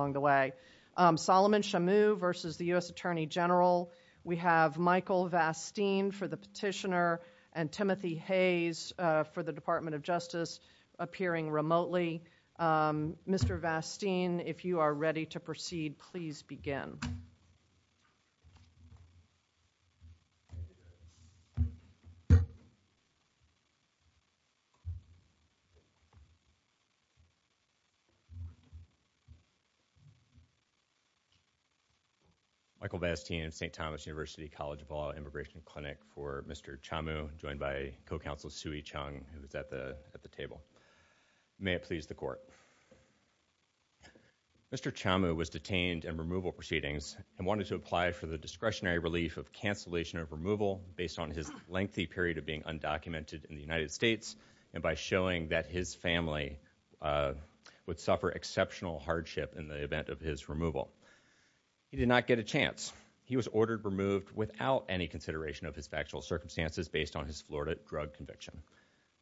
Solomon Chamu versus the U.S. Attorney General. We have Michael Vasteen for the petitioner and Timothy Hayes for the Department of Justice appearing remotely. Mr. Vasteen, if you are ready. Michael Vasteen, St. Thomas University College of Law Immigration Clinic for Mr. Chamu, joined by co-counsel Sui Chung, who is at the table. May it please the Court. Mr. Chamu was detained in removal proceedings and wanted to apply for the discretionary relief of cancellation of removal based on his lengthy period of being undocumented in the United States and by showing that his family would suffer exceptional hardship in the event of his removal. He did not get a chance. He was ordered removed without any consideration of his factual circumstances based on his Florida drug conviction.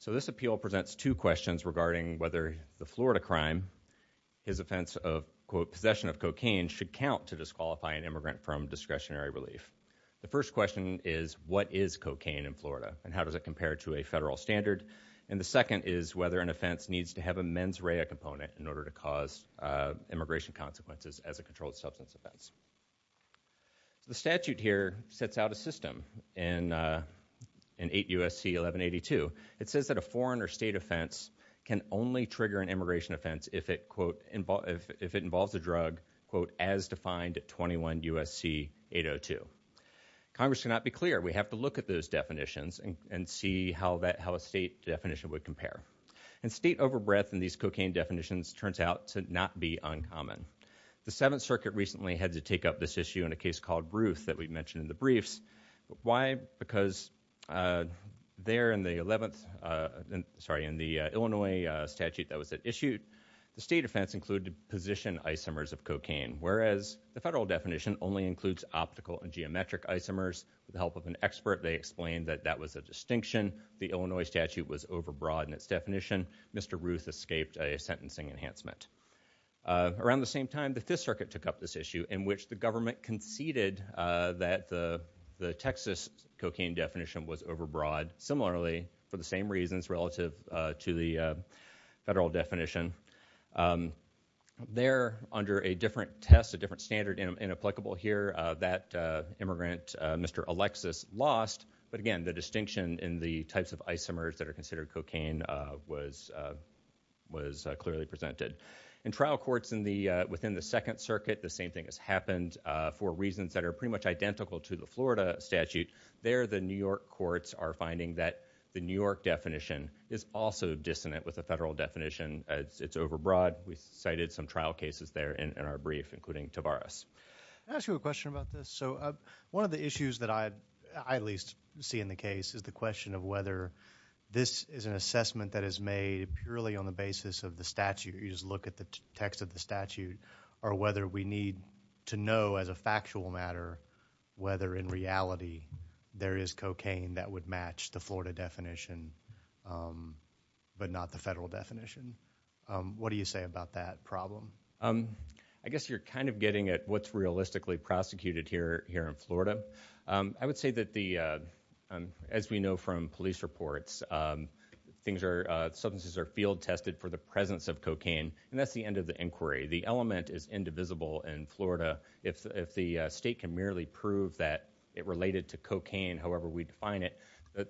So this appeal presents two questions regarding whether the Florida crime, his offense of possession of cocaine should count to disqualify an immigrant from discretionary relief. The first question is what is cocaine in Florida and how does it compare to a federal standard? And the second is whether an offense needs to have a mens rea component in order to cause immigration consequences as a controlled substance offense. The statute here sets out a system in 8 U.S.C. 1182. It says that a foreign or state offense can only trigger an immigration offense if it, quote, if it involves a drug, quote, as defined at 21 U.S.C. 802. Congress cannot be clear. We have to look at those definitions and see how a state definition would compare. And state overbreath in these cocaine definitions turns out to not be uncommon. The 7th Circuit recently had to take up this issue in a case called Ruth that we mentioned in the briefs. Why? Because there in the 11th, sorry, in the Illinois statute that was issued, the state offense included position isomers of cocaine, whereas the federal definition only includes optical and geometric isomers. With the help of an expert, they explained that that was a distinction. The Illinois statute was overbroad in its enhancement. Around the same time, the 5th Circuit took up this issue in which the government conceded that the Texas cocaine definition was overbroad. Similarly, for the same reasons relative to the federal definition. There, under a different test, a different standard and applicable here, that immigrant, Mr. Alexis, lost. But again, the distinction in the types of isomers that are considered cocaine was clearly presented. In trial courts within the 2nd Circuit, the same thing has happened for reasons that are pretty much identical to the Florida statute. There, the New York courts are finding that the New York definition is also dissonant with the federal definition. It's overbroad. We cited some trial cases there in our brief, including Tavares. I have a question about this. One of the issues that I at least see in the case is the question of whether this is an assessment that is made purely on the basis of the statute. You just look at the text of the statute, or whether we need to know as a factual matter whether in reality there is cocaine that would match the Florida definition, but not the federal definition. What do you say about that problem? I guess you're kind of getting at what's realistically prosecuted here in Florida. I would say that the, as we know from police reports, substances are field tested for the presence of cocaine, and that's the end of the inquiry. The element is indivisible in Florida. If the state can merely prove that it related to cocaine, however we define it,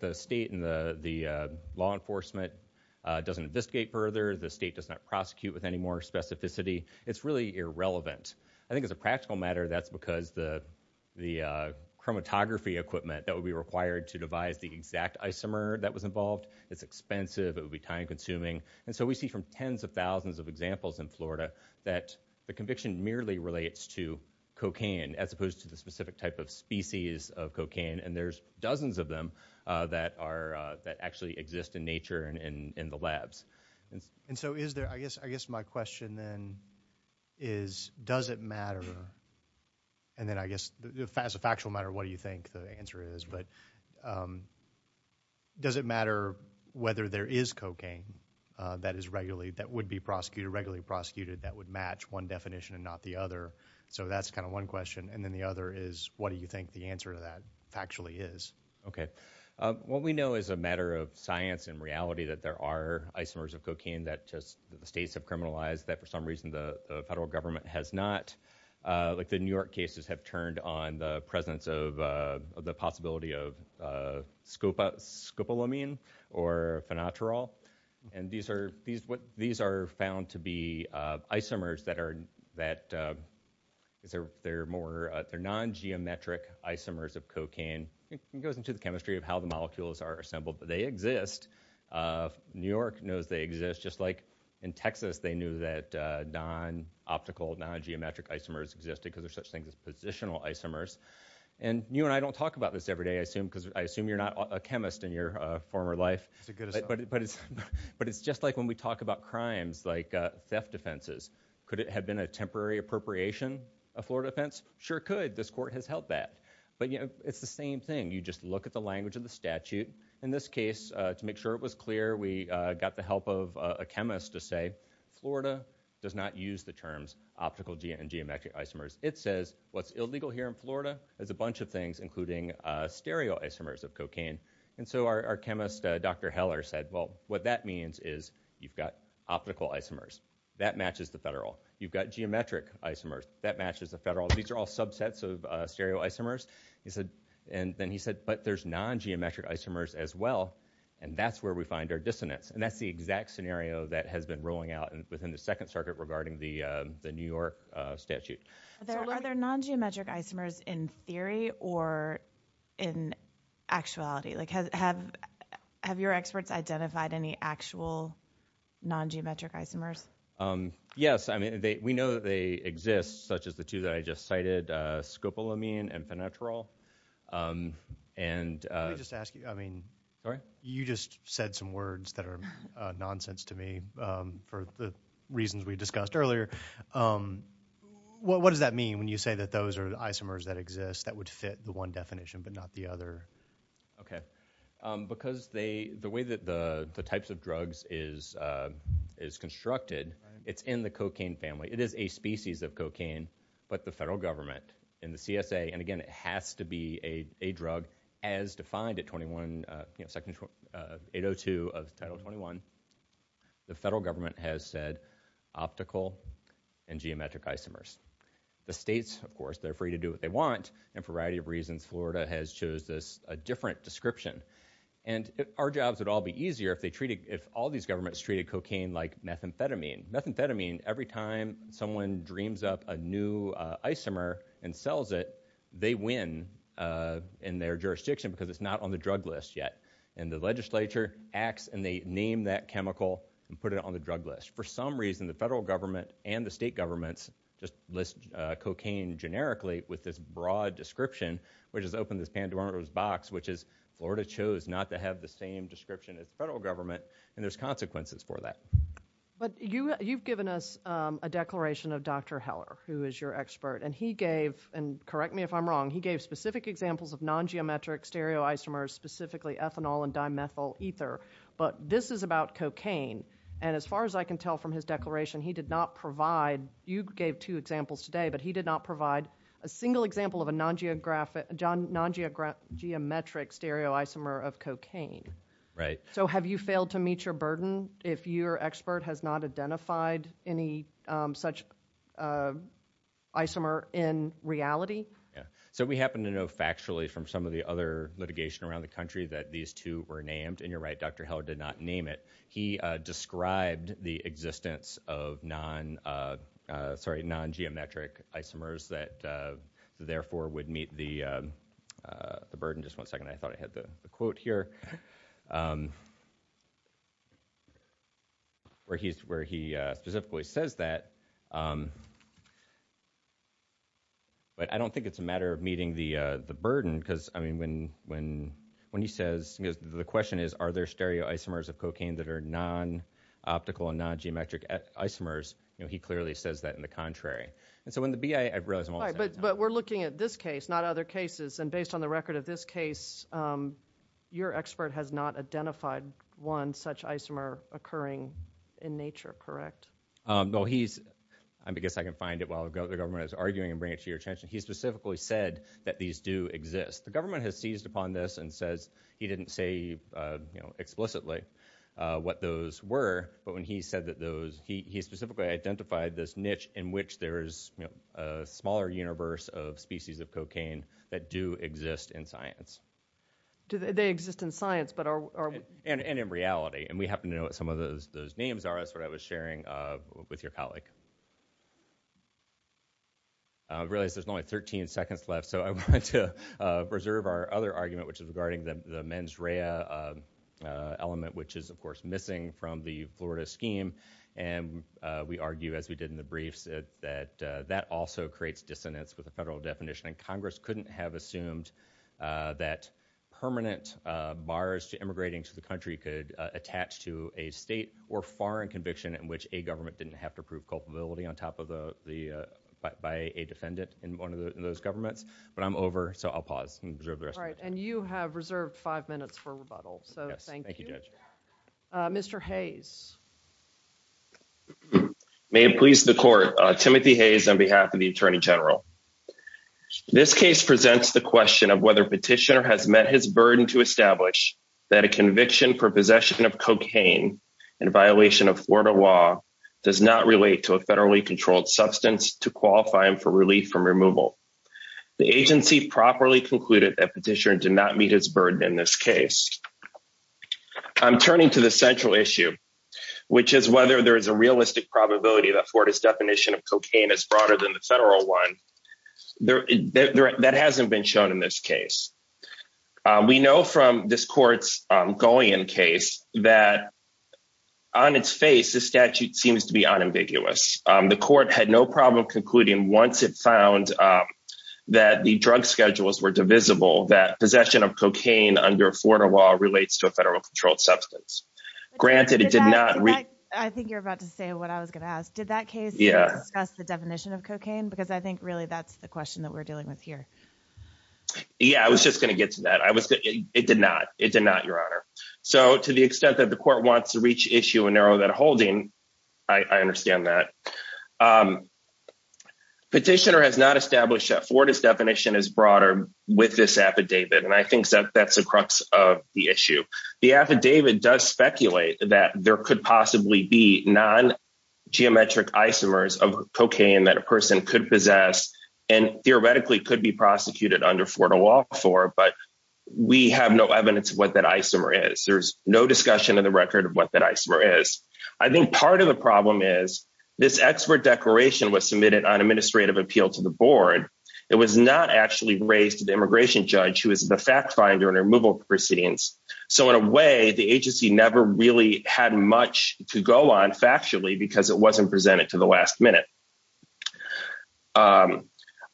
the state and the law enforcement doesn't investigate further, the state does not prosecute with any more specificity. It's really irrelevant. I think as a practical matter, that's because the chromatography equipment that would be required to devise the exact isomer that was involved, it's expensive, it would be time consuming. We see from tens of thousands of examples in Florida that the conviction merely relates to cocaine, as opposed to the specific type of species of cocaine, and there's dozens of them that actually exist in nature and in the labs. And so is there, I guess my question then is does it matter, and then I guess as a factual matter what do you think the answer is, but does it matter whether there is cocaine that is regularly, that would be prosecuted, regularly prosecuted, that would match one definition and not the other? So that's kind of one question, and then the other is what do you think the answer actually is? Okay. What we know is a matter of science and reality that there are isomers of cocaine that states have criminalized, that for some reason the federal government has not. Like the New York cases have turned on the presence of the possibility of scopolamine or phenotrol, and these are found to be isomers that are, they're non-geometric isomers of cocaine, it goes into the chemistry of how the molecules are assembled, but they exist. New York knows they exist, just like in Texas they knew that non-optical, non-geometric isomers existed because they're such things as positional isomers. And you and I don't talk about this every day, I assume, because I assume you're not a chemist in your former life, but it's just like when we talk about crimes like theft offenses, could it have been a temporary appropriation of Florida offense? Sure it could, this court has held that. But it's the same thing, you just look at the language of the statute. In this case, to make sure it was clear, we got the help of a chemist to say Florida does not use the terms optical and geometric isomers. It says what's illegal here in Florida is a bunch of things, including stereo isomers of cocaine. And so our chemist, Dr. Heller, said, well, what that means is you've got matches of federal, these are all subsets of stereo isomers. And then he said, but there's non-geometric isomers as well, and that's where we find our dissonance. And that's the exact scenario that has been rolling out within the Second Circuit regarding the New York statute. Are there non-geometric isomers in theory or in actuality? Have your experts identified any actual non-geometric isomers? Yes, I mean, we know that they exist, such as the two that I just cited, scopolamine and phenetrol. And... Let me just ask you, you just said some words that are nonsense to me for the reasons we discussed earlier. What does that mean when you say that those are isomers that exist that would fit the one definition but not the other? Okay. Because the way that the types of drugs is constructed, it's in the cocaine family. It is a species of cocaine, but the federal government and the CSA, and again, it has to be a drug as defined at Section 802 of Title 21, the federal government has said optical and geometric isomers. The states, of course, they're free to do what they want, and for a variety of reasons, Florida has chosen a different description. And our jobs would all be easier if they treated, if all these governments treated cocaine like methamphetamine. Methamphetamine, every time someone dreams up a new isomer and sells it, they win in their jurisdiction because it's not on the drug list yet. And the legislature acts and they name that chemical and put it on the drug list. For some reason, the federal government and the state governments just list cocaine generically with this broad description, which has opened this Pandora's box, which is Florida chose not to have the same description as the federal government, and there's consequences for that. But you've given us a declaration of Dr. Heller, who is your expert, and he gave, and correct me if I'm wrong, he gave specific examples of non-geometric stereoisomers, specifically ethanol and dimethyl ether, but this is about cocaine, and as far as I can tell from his testimony, he did not provide, you gave two examples today, but he did not provide a single example of a non-geometric stereoisomer of cocaine. So have you failed to meet your burden if your expert has not identified any such isomer in reality? So we happen to know factually from some of the other litigation around the country that these two were named, and you're right, Dr. Heller did not name it. He described the existence of non, sorry, non-geometric isomers that therefore would meet the burden, just one second, I thought I had the quote here, where he specifically says that, but I don't think it's a matter of meeting the burden, because, I mean, when he says, because the question is are there stereoisomers of cocaine that are non-optical and non-geometric isomers, he clearly says that in the contrary. And so when the BIA, I realize I'm almost out of time. But we're looking at this case, not other cases, and based on the record of this case, your expert has not identified one such isomer occurring in nature, correct? No, he's, I guess I can find it while the government is arguing and bring it to your attention, he specifically said that these do exist. The government has seized upon this and says, he didn't say, you know, explicitly what those were, but when he said that those, he specifically identified this niche in which there is, you know, a smaller universe of species of cocaine that do exist in science. They exist in science, but are. And in reality, and we happen to know what some of those names are, that's what I was sharing with your colleague. I realize there's only 13 seconds left, so I wanted to preserve our other argument, which is regarding the mens rea element, which is, of course, missing from the Florida scheme. And we argue, as we did in the briefs, that that also creates dissonance with the federal definition. And Congress couldn't have assumed that permanent bars to immigrating to the country could attach to a state or foreign conviction in which a government didn't have to prove culpability on top of the, by a defendant in one of those governments, but I'm over. So I'll pause and reserve the rest. And you have reserved five minutes for rebuttal. So thank you, Judge. Mr. Hayes. May it please the court. Timothy Hayes on behalf of the Attorney General. This case presents the question of whether petitioner has met his burden to establish that a conviction for possession of cocaine and violation of Florida law does not relate to a federally controlled substance to qualify him for relief from removal. The agency properly concluded that petitioner did not meet his burden in this case. I'm turning to the central issue, which is whether there is a realistic probability that Florida's definition of cocaine is broader than the federal one. That hasn't been shown in this case. We know from this court had no problem concluding once it found that the drug schedules were divisible, that possession of cocaine under Florida law relates to a federal controlled substance. Granted, it did not. I think you're about to say what I was going to ask. Did that case discuss the definition of cocaine? Because I think really that's the question that we're dealing with here. Yeah, I was just going to get to that. I was, it did not, it did not your honor. So to the extent that the court wants to reach issue and narrow that holding, I understand that. Petitioner has not established that Florida's definition is broader with this affidavit. And I think that that's the crux of the issue. The affidavit does speculate that there could possibly be non-geometric isomers of cocaine that a person could possess and theoretically could be prosecuted under Florida law for, but we have no evidence of what that isomer is. There's no discussion of the record of what that isomer is. I think part of the problem is this expert declaration was submitted on administrative appeal to the board. It was not actually raised to the immigration judge who is the fact finder and removal proceedings. So in a way the agency never really had much to go on factually because it wasn't presented to the last minute.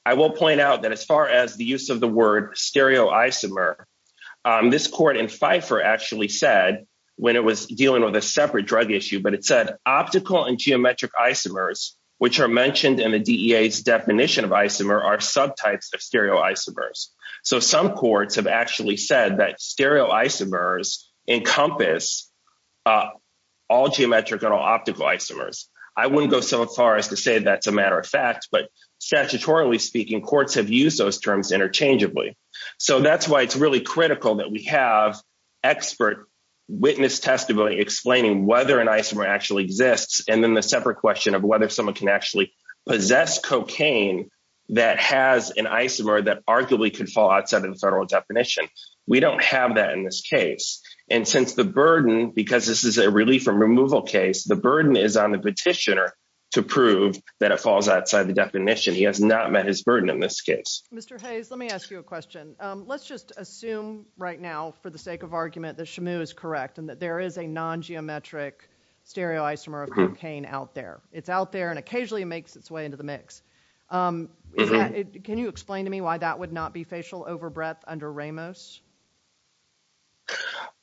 I will point out that as far as the use of the word stereoisomer, this court in Pfeiffer actually said when it was dealing with a separate drug issue, but it said optical and geometric isomers, which are mentioned in the DEA's definition of isomer are subtypes of stereoisomers. So some courts have actually said that stereoisomers encompass all geometric and all optical isomers. I wouldn't go so far as to say that's a matter of fact, but statutorily speaking, courts have used those terms interchangeably. So that's why it's really critical that we have expert witness testimony explaining whether an isomer actually exists. And then the separate question of whether someone can actually possess cocaine that has an isomer that arguably could fall outside of the federal definition. We don't have that in this case. And since the burden, because this is a relief from removal case, the burden is on the petitioner to prove that it falls outside the definition. He has not met his burden in this case. Mr. Hayes, let me ask you a question. Let's just assume right now for the sake of argument that Shamu is correct and that there is a non-geometric stereoisomer of cocaine out there. It's out there and occasionally it makes its way into the mix. Can you explain to me why that would not be facial over breadth under Ramos?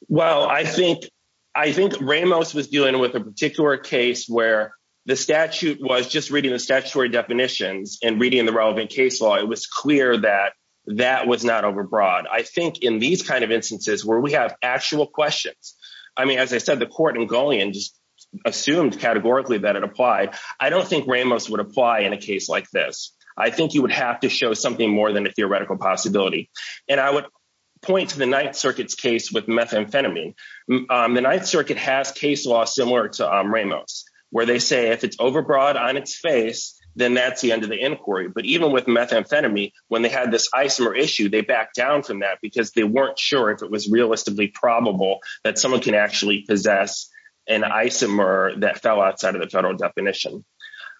Well, I think, I think Ramos was dealing with a particular case where the statute was just reading the statutory definitions and reading the relevant case law. It was clear that that was not over broad. I think in these kind of instances where we have actual questions, I mean, as I said, the court in Golian just assumed categorically that it applied. I don't think Ramos would apply in a case like this. I think you would have to show something more than a theoretical possibility. And I would point to the Ninth Circuit's case with methamphetamine. The Ninth Circuit has case law similar to Ramos, where they say if it's over broad on its face, then that's the end of the inquiry. But even with methamphetamine, when they had this isomer issue, they backed down from that because they weren't sure if it was realistically probable that someone can actually possess an isomer that fell outside of the federal definition.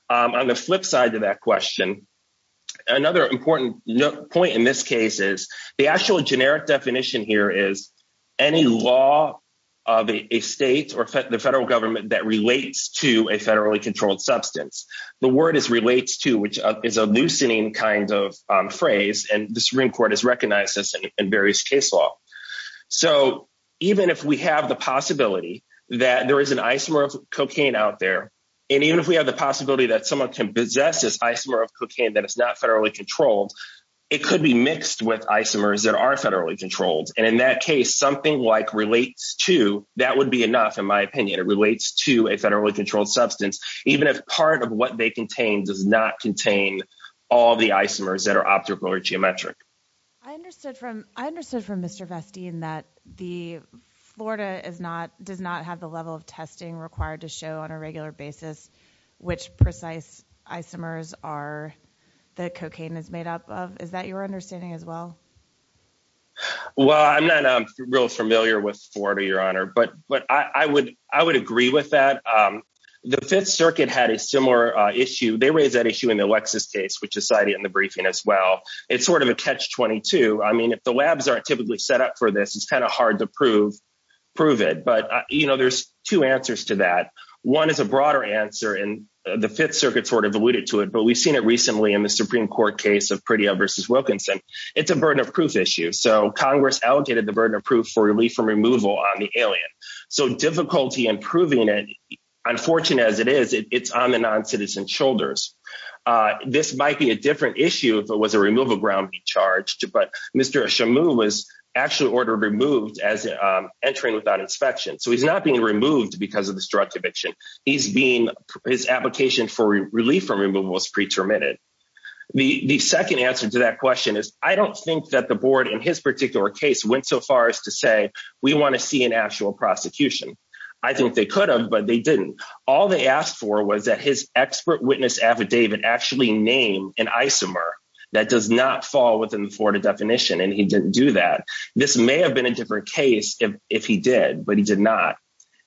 On the flip side of that question, another important point in this case is the actual generic definition here is any law of a state or the federal government that relates to a federally controlled substance. The word is relates to which is a loosening kind of phrase and the Supreme Court has recognized this in various case law. So even if we have the possibility that there is an isomer of cocaine out there, and even if we have the possibility that someone can possess this isomer of cocaine that is not federally controlled, it could be mixed with isomers that are federally controlled. And in that case, something like relates to that would be enough. In my opinion, it relates to a federally controlled substance, even if part of what they contain does not contain all the isomers that are optical or geometric. I understood from I understood from Mr. Vestine that the Florida is not does not have the level of testing required to show on a regular basis, which precise isomers are the cocaine is made up of? Is that your understanding as well? Well, I'm not real familiar with Florida, Your Honor, but but I would I would agree with that. The Fifth Circuit had a similar issue. They raised that issue in the Lexus case, which is cited in the briefing as well. It's sort of a catch 22. I mean, if the labs aren't typically set up for this, it's kind of hard to prove, prove it. But you know, there's two answers to that. One is a broader answer in the Fifth Circuit sort of alluded to it, but we've seen it recently in the Supreme Court case of pretty versus Wilkinson. It's a burden of proof issue. So Congress allocated the burden of proof for relief from removal on the alien. So difficulty in proving it, unfortunate as it is, it's on the non citizen shoulders. This might be a different issue if it was a removal ground be charged, but Mr. Shamu was actually ordered removed as entering without inspection. So he's not being removed because of this direct eviction. He's being his application for relief from removal is pre terminated. The second answer to that question is I don't think that the board in his particular case went so far as to say we want to see an actual prosecution. I think they could have, but they didn't. All they asked for was that his expert witness affidavit actually named an isomer that does not fall within the Florida definition. And he didn't do that. This may have been a different case if he did, but he did not.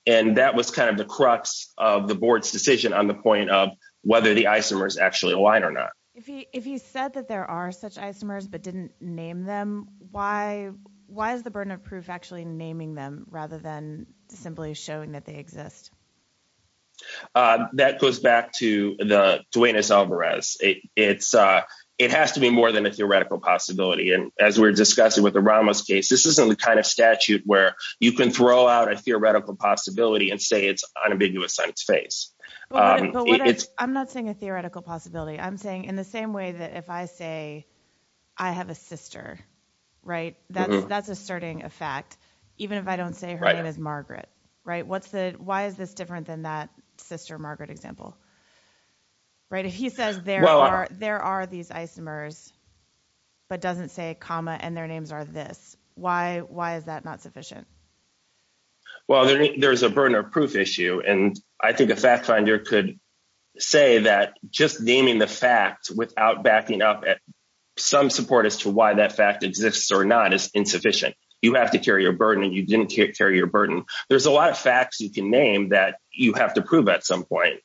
And that was kind of the crux of the board's decision on the point of whether the isomers actually align or not. If he, if he said that there are such isomers, but didn't name them, why, why is the burden of proof actually naming them rather than simply showing that they exist? That goes back to the Duenas Alvarez. It's it has to be more than a theoretical possibility. And as we're discussing with the Ramos case, this isn't the kind of statute where you can throw out a theoretical possibility and say it's unambiguous on its face. I'm not saying a theoretical possibility. I'm saying in the same way that if I say, I have a sister, right? That's, that's asserting a fact, even if I don't say her name is Margaret, right? What's the, why is this different than that sister Margaret example, right? If he says, there are, there are these isomers, but doesn't say comma and their names are this, why, why is that not sufficient? Well, there's a burden of proof issue. And I think a fact finder could say that just naming the fact without backing up at some support as to why that fact exists or not is insufficient. You have to carry your burden and you didn't carry your burden. There's a lot of facts you can name that you have to prove at some point.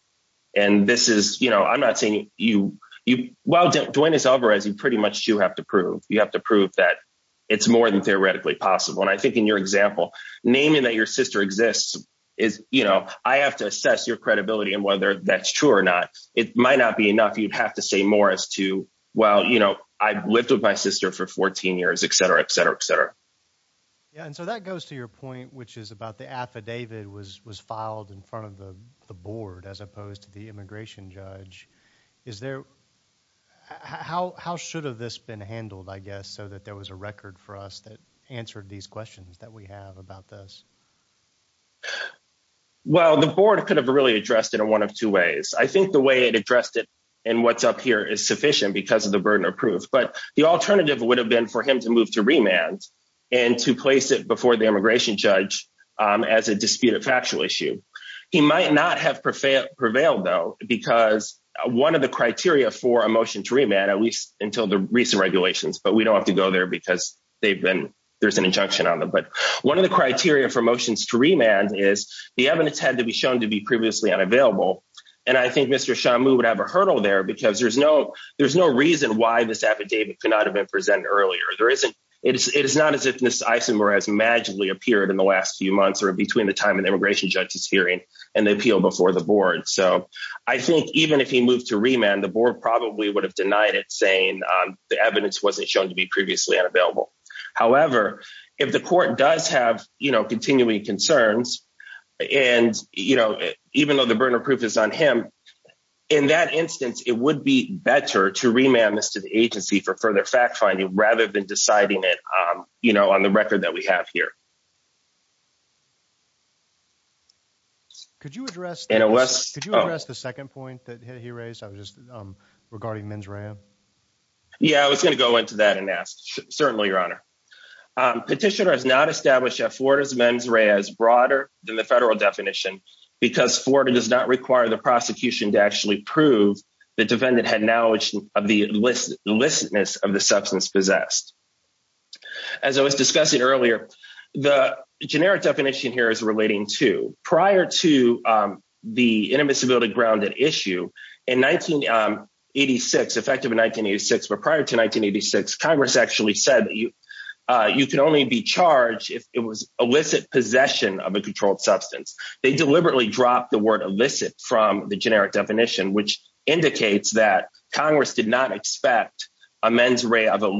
And this is, you know, I'm not saying you, you, well, Duenas Alvarez, you pretty much do have to prove, you have to prove that it's more than theoretically possible. And I think in your example, naming that your sister exists is, you know, I have to assess your credibility and whether that's true or not, it might not be enough. You'd have to say more as to, well, you know, I've lived with my sister for 14 years, et cetera, et cetera, et cetera. Yeah. And so that goes to your point, which is about the affidavit was, was filed in front of the board, as opposed to the immigration judge. Is there, how, how should have this been handled, I guess, so that there was a record for us that answered these questions that we have about this? Well, the board could have really addressed it in one of two ways. I think the way it addressed it and what's up here is sufficient because of the burden of proof, but the alternative would have been for him to move to remand and to place it before the immigration judge as a disputed factual issue. He might not have prevailed though, because one of the criteria for a motion to remand, at least until the recent regulations, but we don't have to go there because they've been, there's an injunction on them. But one of the criteria for motions to remand is the evidence had to be shown to be previously unavailable. And I think Mr. Shamu would have a hurdle there because there's no, there's no reason why this affidavit could not have been presented earlier. There isn't, it is not as if this isomer has magically appeared in the last few months or between the time of the immigration judge's hearing and the appeal before the board. So I think even if he moved to remand, the board probably would have denied it saying the evidence wasn't shown to be previously unavailable. However, if the court does have, you know, continuing concerns and, you know, even though the burden of proof is on him, in that instance, it would be better to remand this to the agency for further fact finding rather than deciding it, you know, on the record that we have here. Could you address, could you address the second point that he raised? I was just regarding mens rea. Yeah, I was going to go into that and ask, certainly your honor. Petitioner has not established that Florida's mens rea is broader than the federal definition because Florida does not require the prosecution to actually prove the defendant had knowledge of the illicitness of the substance possessed. As I was discussing earlier, the generic definition here is relating to prior to the intermissibility grounded issue in 1986, effective in 1986, but prior to 1986, Congress actually said that you can only be charged if it was illicit possession of a controlled substance. They deliberately dropped the word illicit from the generic definition, which indicates that Congress did not expect a mens rea of a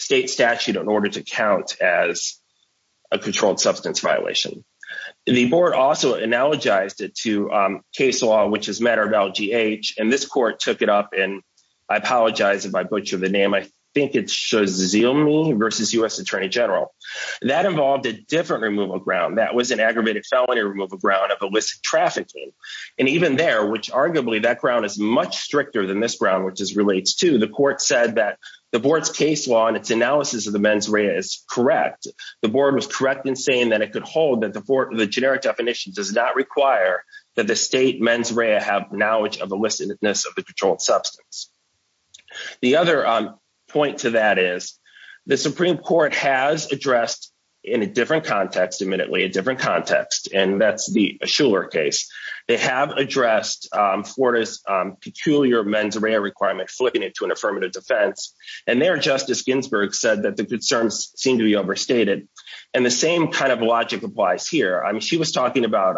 state statute in order to count as a controlled substance violation. The board also analogized it to case law, which is matter of LGH, and this court took it up and I apologize if I butcher the name, I think it's Shazilme versus US Attorney General. That involved a different removal ground that was an aggravated felony removal ground of illicit trafficking. And even there, which arguably that ground is much stricter than this ground, which is relates to the court said that the case law and its analysis of the mens rea is correct. The board was correct in saying that it could hold that the generic definition does not require that the state mens rea have knowledge of the illicitness of the controlled substance. The other point to that is the Supreme Court has addressed in a different context, admittedly, a different context, and that's the Schuller case. They have addressed Florida's peculiar mens rea requirement, flipping it to an affirmative defense, and their Justice Ginsburg said that the concerns seem to be overstated. And the same kind of logic applies here. I mean, she was talking about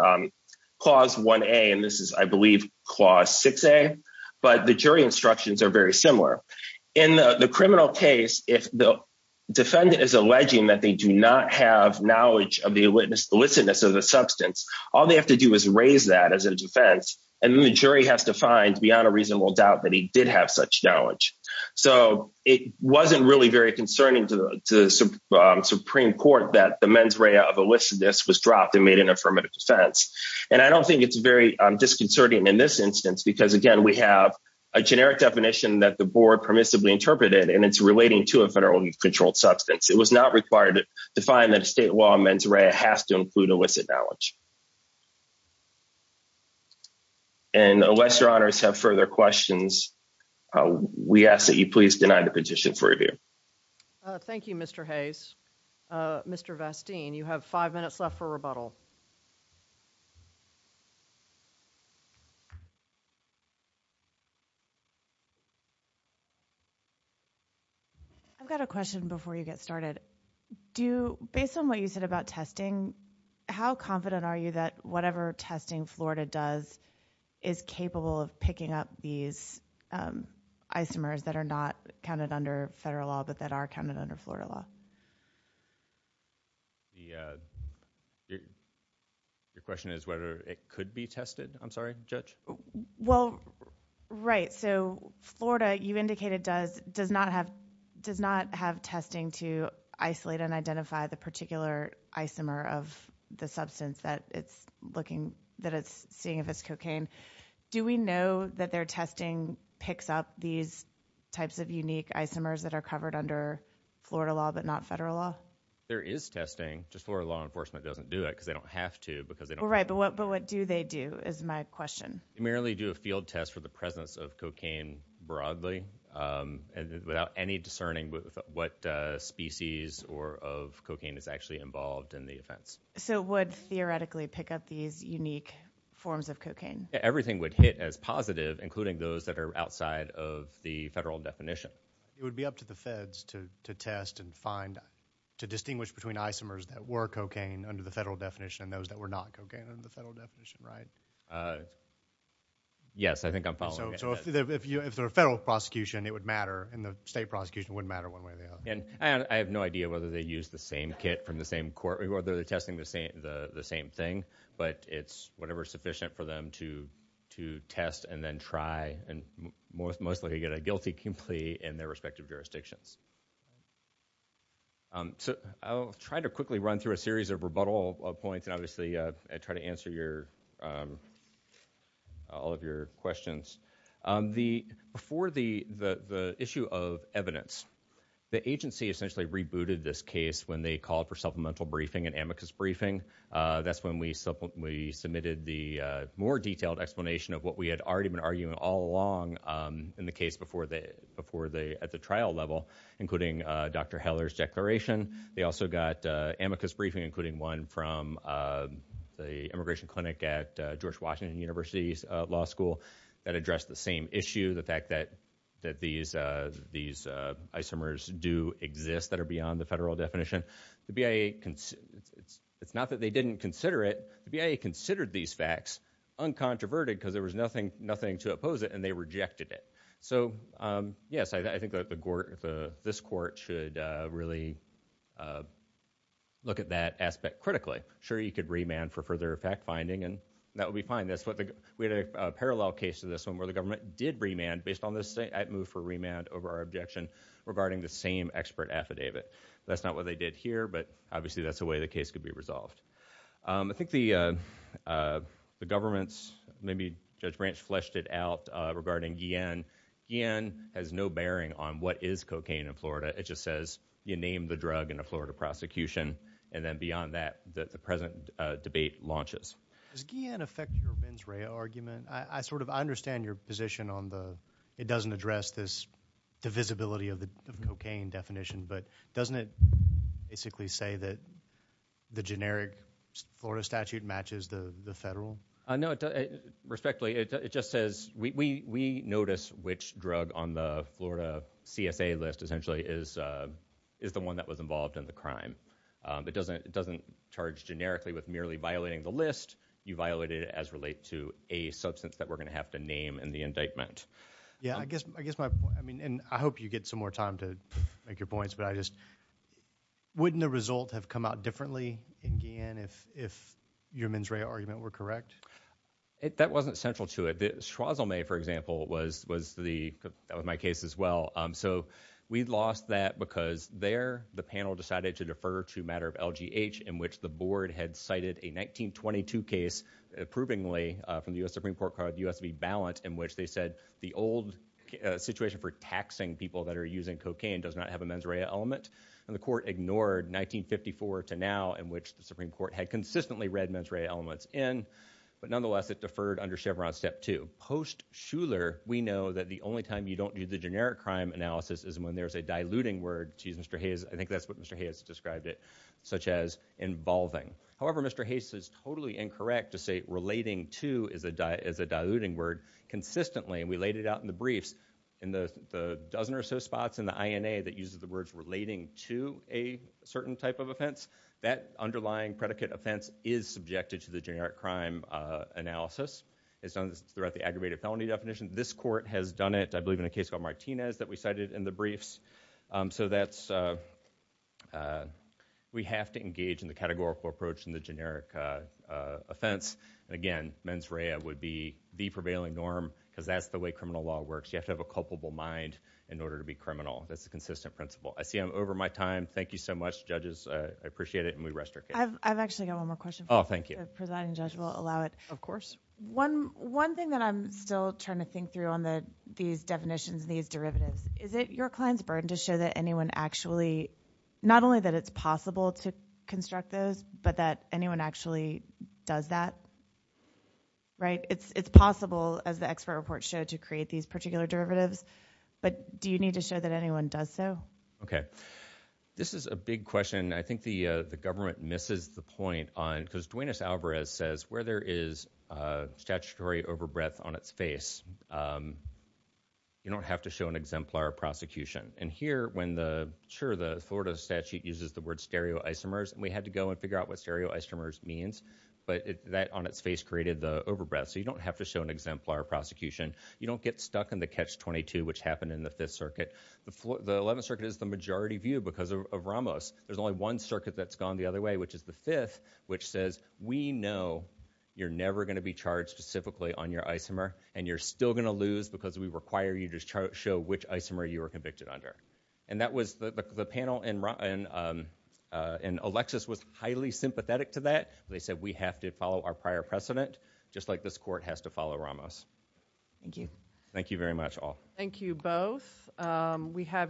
Clause 1A, and this is, I believe, Clause 6A, but the jury instructions are very similar. In the criminal case, if the defendant is alleging that they do not have knowledge of the illicitness of the substance, all they have to do is raise that as a defense, and then the jury has to find, beyond a reasonable doubt, that he did have such knowledge. So, it wasn't really very concerning to the Supreme Court that the mens rea of illicitness was dropped and made an affirmative defense. And I don't think it's very disconcerting in this instance because, again, we have a generic definition that the board permissibly interpreted, and it's relating to a federally controlled substance. It was not required to define that has to include illicit knowledge. And unless your honors have further questions, we ask that you please deny the petition for review. Thank you, Mr. Hayes. Mr. Vasteen, you have five minutes left for rebuttal. I've got a question before you get started. Based on what you said about testing, how confident are you that whatever testing Florida does is capable of picking up these isomers that are not counted under federal law but that are counted under Florida law? Your question is whether it could be tested? I'm sorry, Judge? Well, right. So, Florida, you indicated, does not have testing to isolate and identify the particular isomer of the substance that it's seeing if it's cocaine. Do we know that their testing picks up these types of unique isomers that are covered under Florida law but not federal law? There is testing. Just Florida law doesn't do that because they don't have to. Right. But what do they do is my question. They merely do a field test for the presence of cocaine broadly without any discerning what species or of cocaine is actually involved in the offense. So it would theoretically pick up these unique forms of cocaine? Everything would hit as positive, including those that are outside of the federal definition. It would be up to the feds to test and find, to distinguish between isomers that were cocaine under the federal definition and those that were not cocaine under the federal definition, right? Yes, I think I'm following. So if they're a federal prosecution, it would matter and the state prosecution wouldn't matter one way or the other. And I have no idea whether they use the same kit from the same court, whether they're testing the same thing, but it's whatever is sufficient for them to test and then try and mostly get a guilty in their respective jurisdictions. So I'll try to quickly run through a series of rebuttal points and obviously try to answer all of your questions. Before the issue of evidence, the agency essentially rebooted this case when they called for supplemental briefing and amicus briefing. That's when we submitted the more detailed explanation of what we had already been arguing all along in the case at the trial level, including Dr. Heller's declaration. They also got amicus briefing, including one from the immigration clinic at George Washington University's law school that addressed the same issue, the fact that these isomers do exist that are beyond the federal definition. It's not that they didn't consider it. The BIA considered these and they rejected it. So yes, I think this court should really look at that aspect critically. Sure, you could remand for further fact-finding and that would be fine. We had a parallel case to this one where the government did remand based on this move for remand over our objection regarding the same expert affidavit. That's not what they did here, but obviously that's the way the case could be resolved. I think the government's maybe Judge Branch fleshed it out regarding Guillen. Guillen has no bearing on what is cocaine in Florida. It just says, you name the drug in a Florida prosecution and then beyond that, the present debate launches. Does Guillen affect your mens rea argument? I understand your position on the, it doesn't address this divisibility of the cocaine definition, but doesn't it basically say that the generic Florida statute matches the federal? No, respectfully, it just says we notice which drug on the Florida CSA list essentially is the one that was involved in the crime. It doesn't charge generically with merely violating the list. You violated it as related to a substance that we're going to have to name in the indictment. Yeah, I guess my point, and I hope you get some more time to make your points, but I just, wouldn't the result have come out differently in Guillen if your mens rea argument were correct? That wasn't central to it. Schwozomay, for example, was the, that was my case as well. So we'd lost that because there the panel decided to defer to a matter of LGH in which the board had cited a 1922 case approvingly from the U.S. Supreme Court card, the U.S.B. balance, in which the old situation for taxing people that are using cocaine does not have a mens rea element, and the court ignored 1954 to now in which the Supreme Court had consistently read mens rea elements in, but nonetheless it deferred under Chevron step two. Post-Schuler, we know that the only time you don't do the generic crime analysis is when there's a diluting word, geez, Mr. Hayes, I think that's what Mr. Hayes described it, such as involving. However, Mr. Hayes is totally incorrect to say relating to is a diluting word consistently, and we laid it out in the briefs in the dozen or so spots in the INA that uses the words relating to a certain type of offense. That underlying predicate offense is subjected to the generic crime analysis. It's done throughout the aggravated felony definition. This court has done it, I believe, in a case called Martinez that we cited in the briefs. So that's, we have to engage in the categorical approach in the generic offense, and again, mens rea would be the prevailing norm, because that's the way criminal law works. You have to have a culpable mind in order to be criminal. That's a consistent principle. I see I'm over my time. Thank you so much, judges. I appreciate it, and we rest our case. I've actually got one more question. Oh, thank you. The presiding judge will allow it. Of course. One thing that I'm still trying to think through on these definitions, these derivatives, is it your client's burden to show that anyone actually, not only that it's possible to construct those, but that anyone actually does that? Right? It's possible, as the expert report showed, to create these particular derivatives, but do you need to show that anyone does so? Okay. This is a big question. I think the government misses the point on, because Duenas-Alvarez says where there is statutory overbreath on its face, you don't have to show an exemplar of prosecution. Here, when the Florida statute uses the word stereoisomers, and we had to go and figure out what stereoisomers means, but that on its face created the overbreath, so you don't have to show an exemplar of prosecution. You don't get stuck in the catch-22, which happened in the Fifth Circuit. The Eleventh Circuit is the majority view, because of Ramos. There's only one circuit that's gone the other way, which is the Fifth, which says we know you're never going to be charged specifically on your isomer, and you're still going to lose, because we require you to show which isomer you were convicted under, and that was the panel, and Alexis was highly sympathetic to that. They said we have to follow our prior precedent, just like this court has to follow Ramos. Thank you. Thank you very much, all. Thank you, both. We have your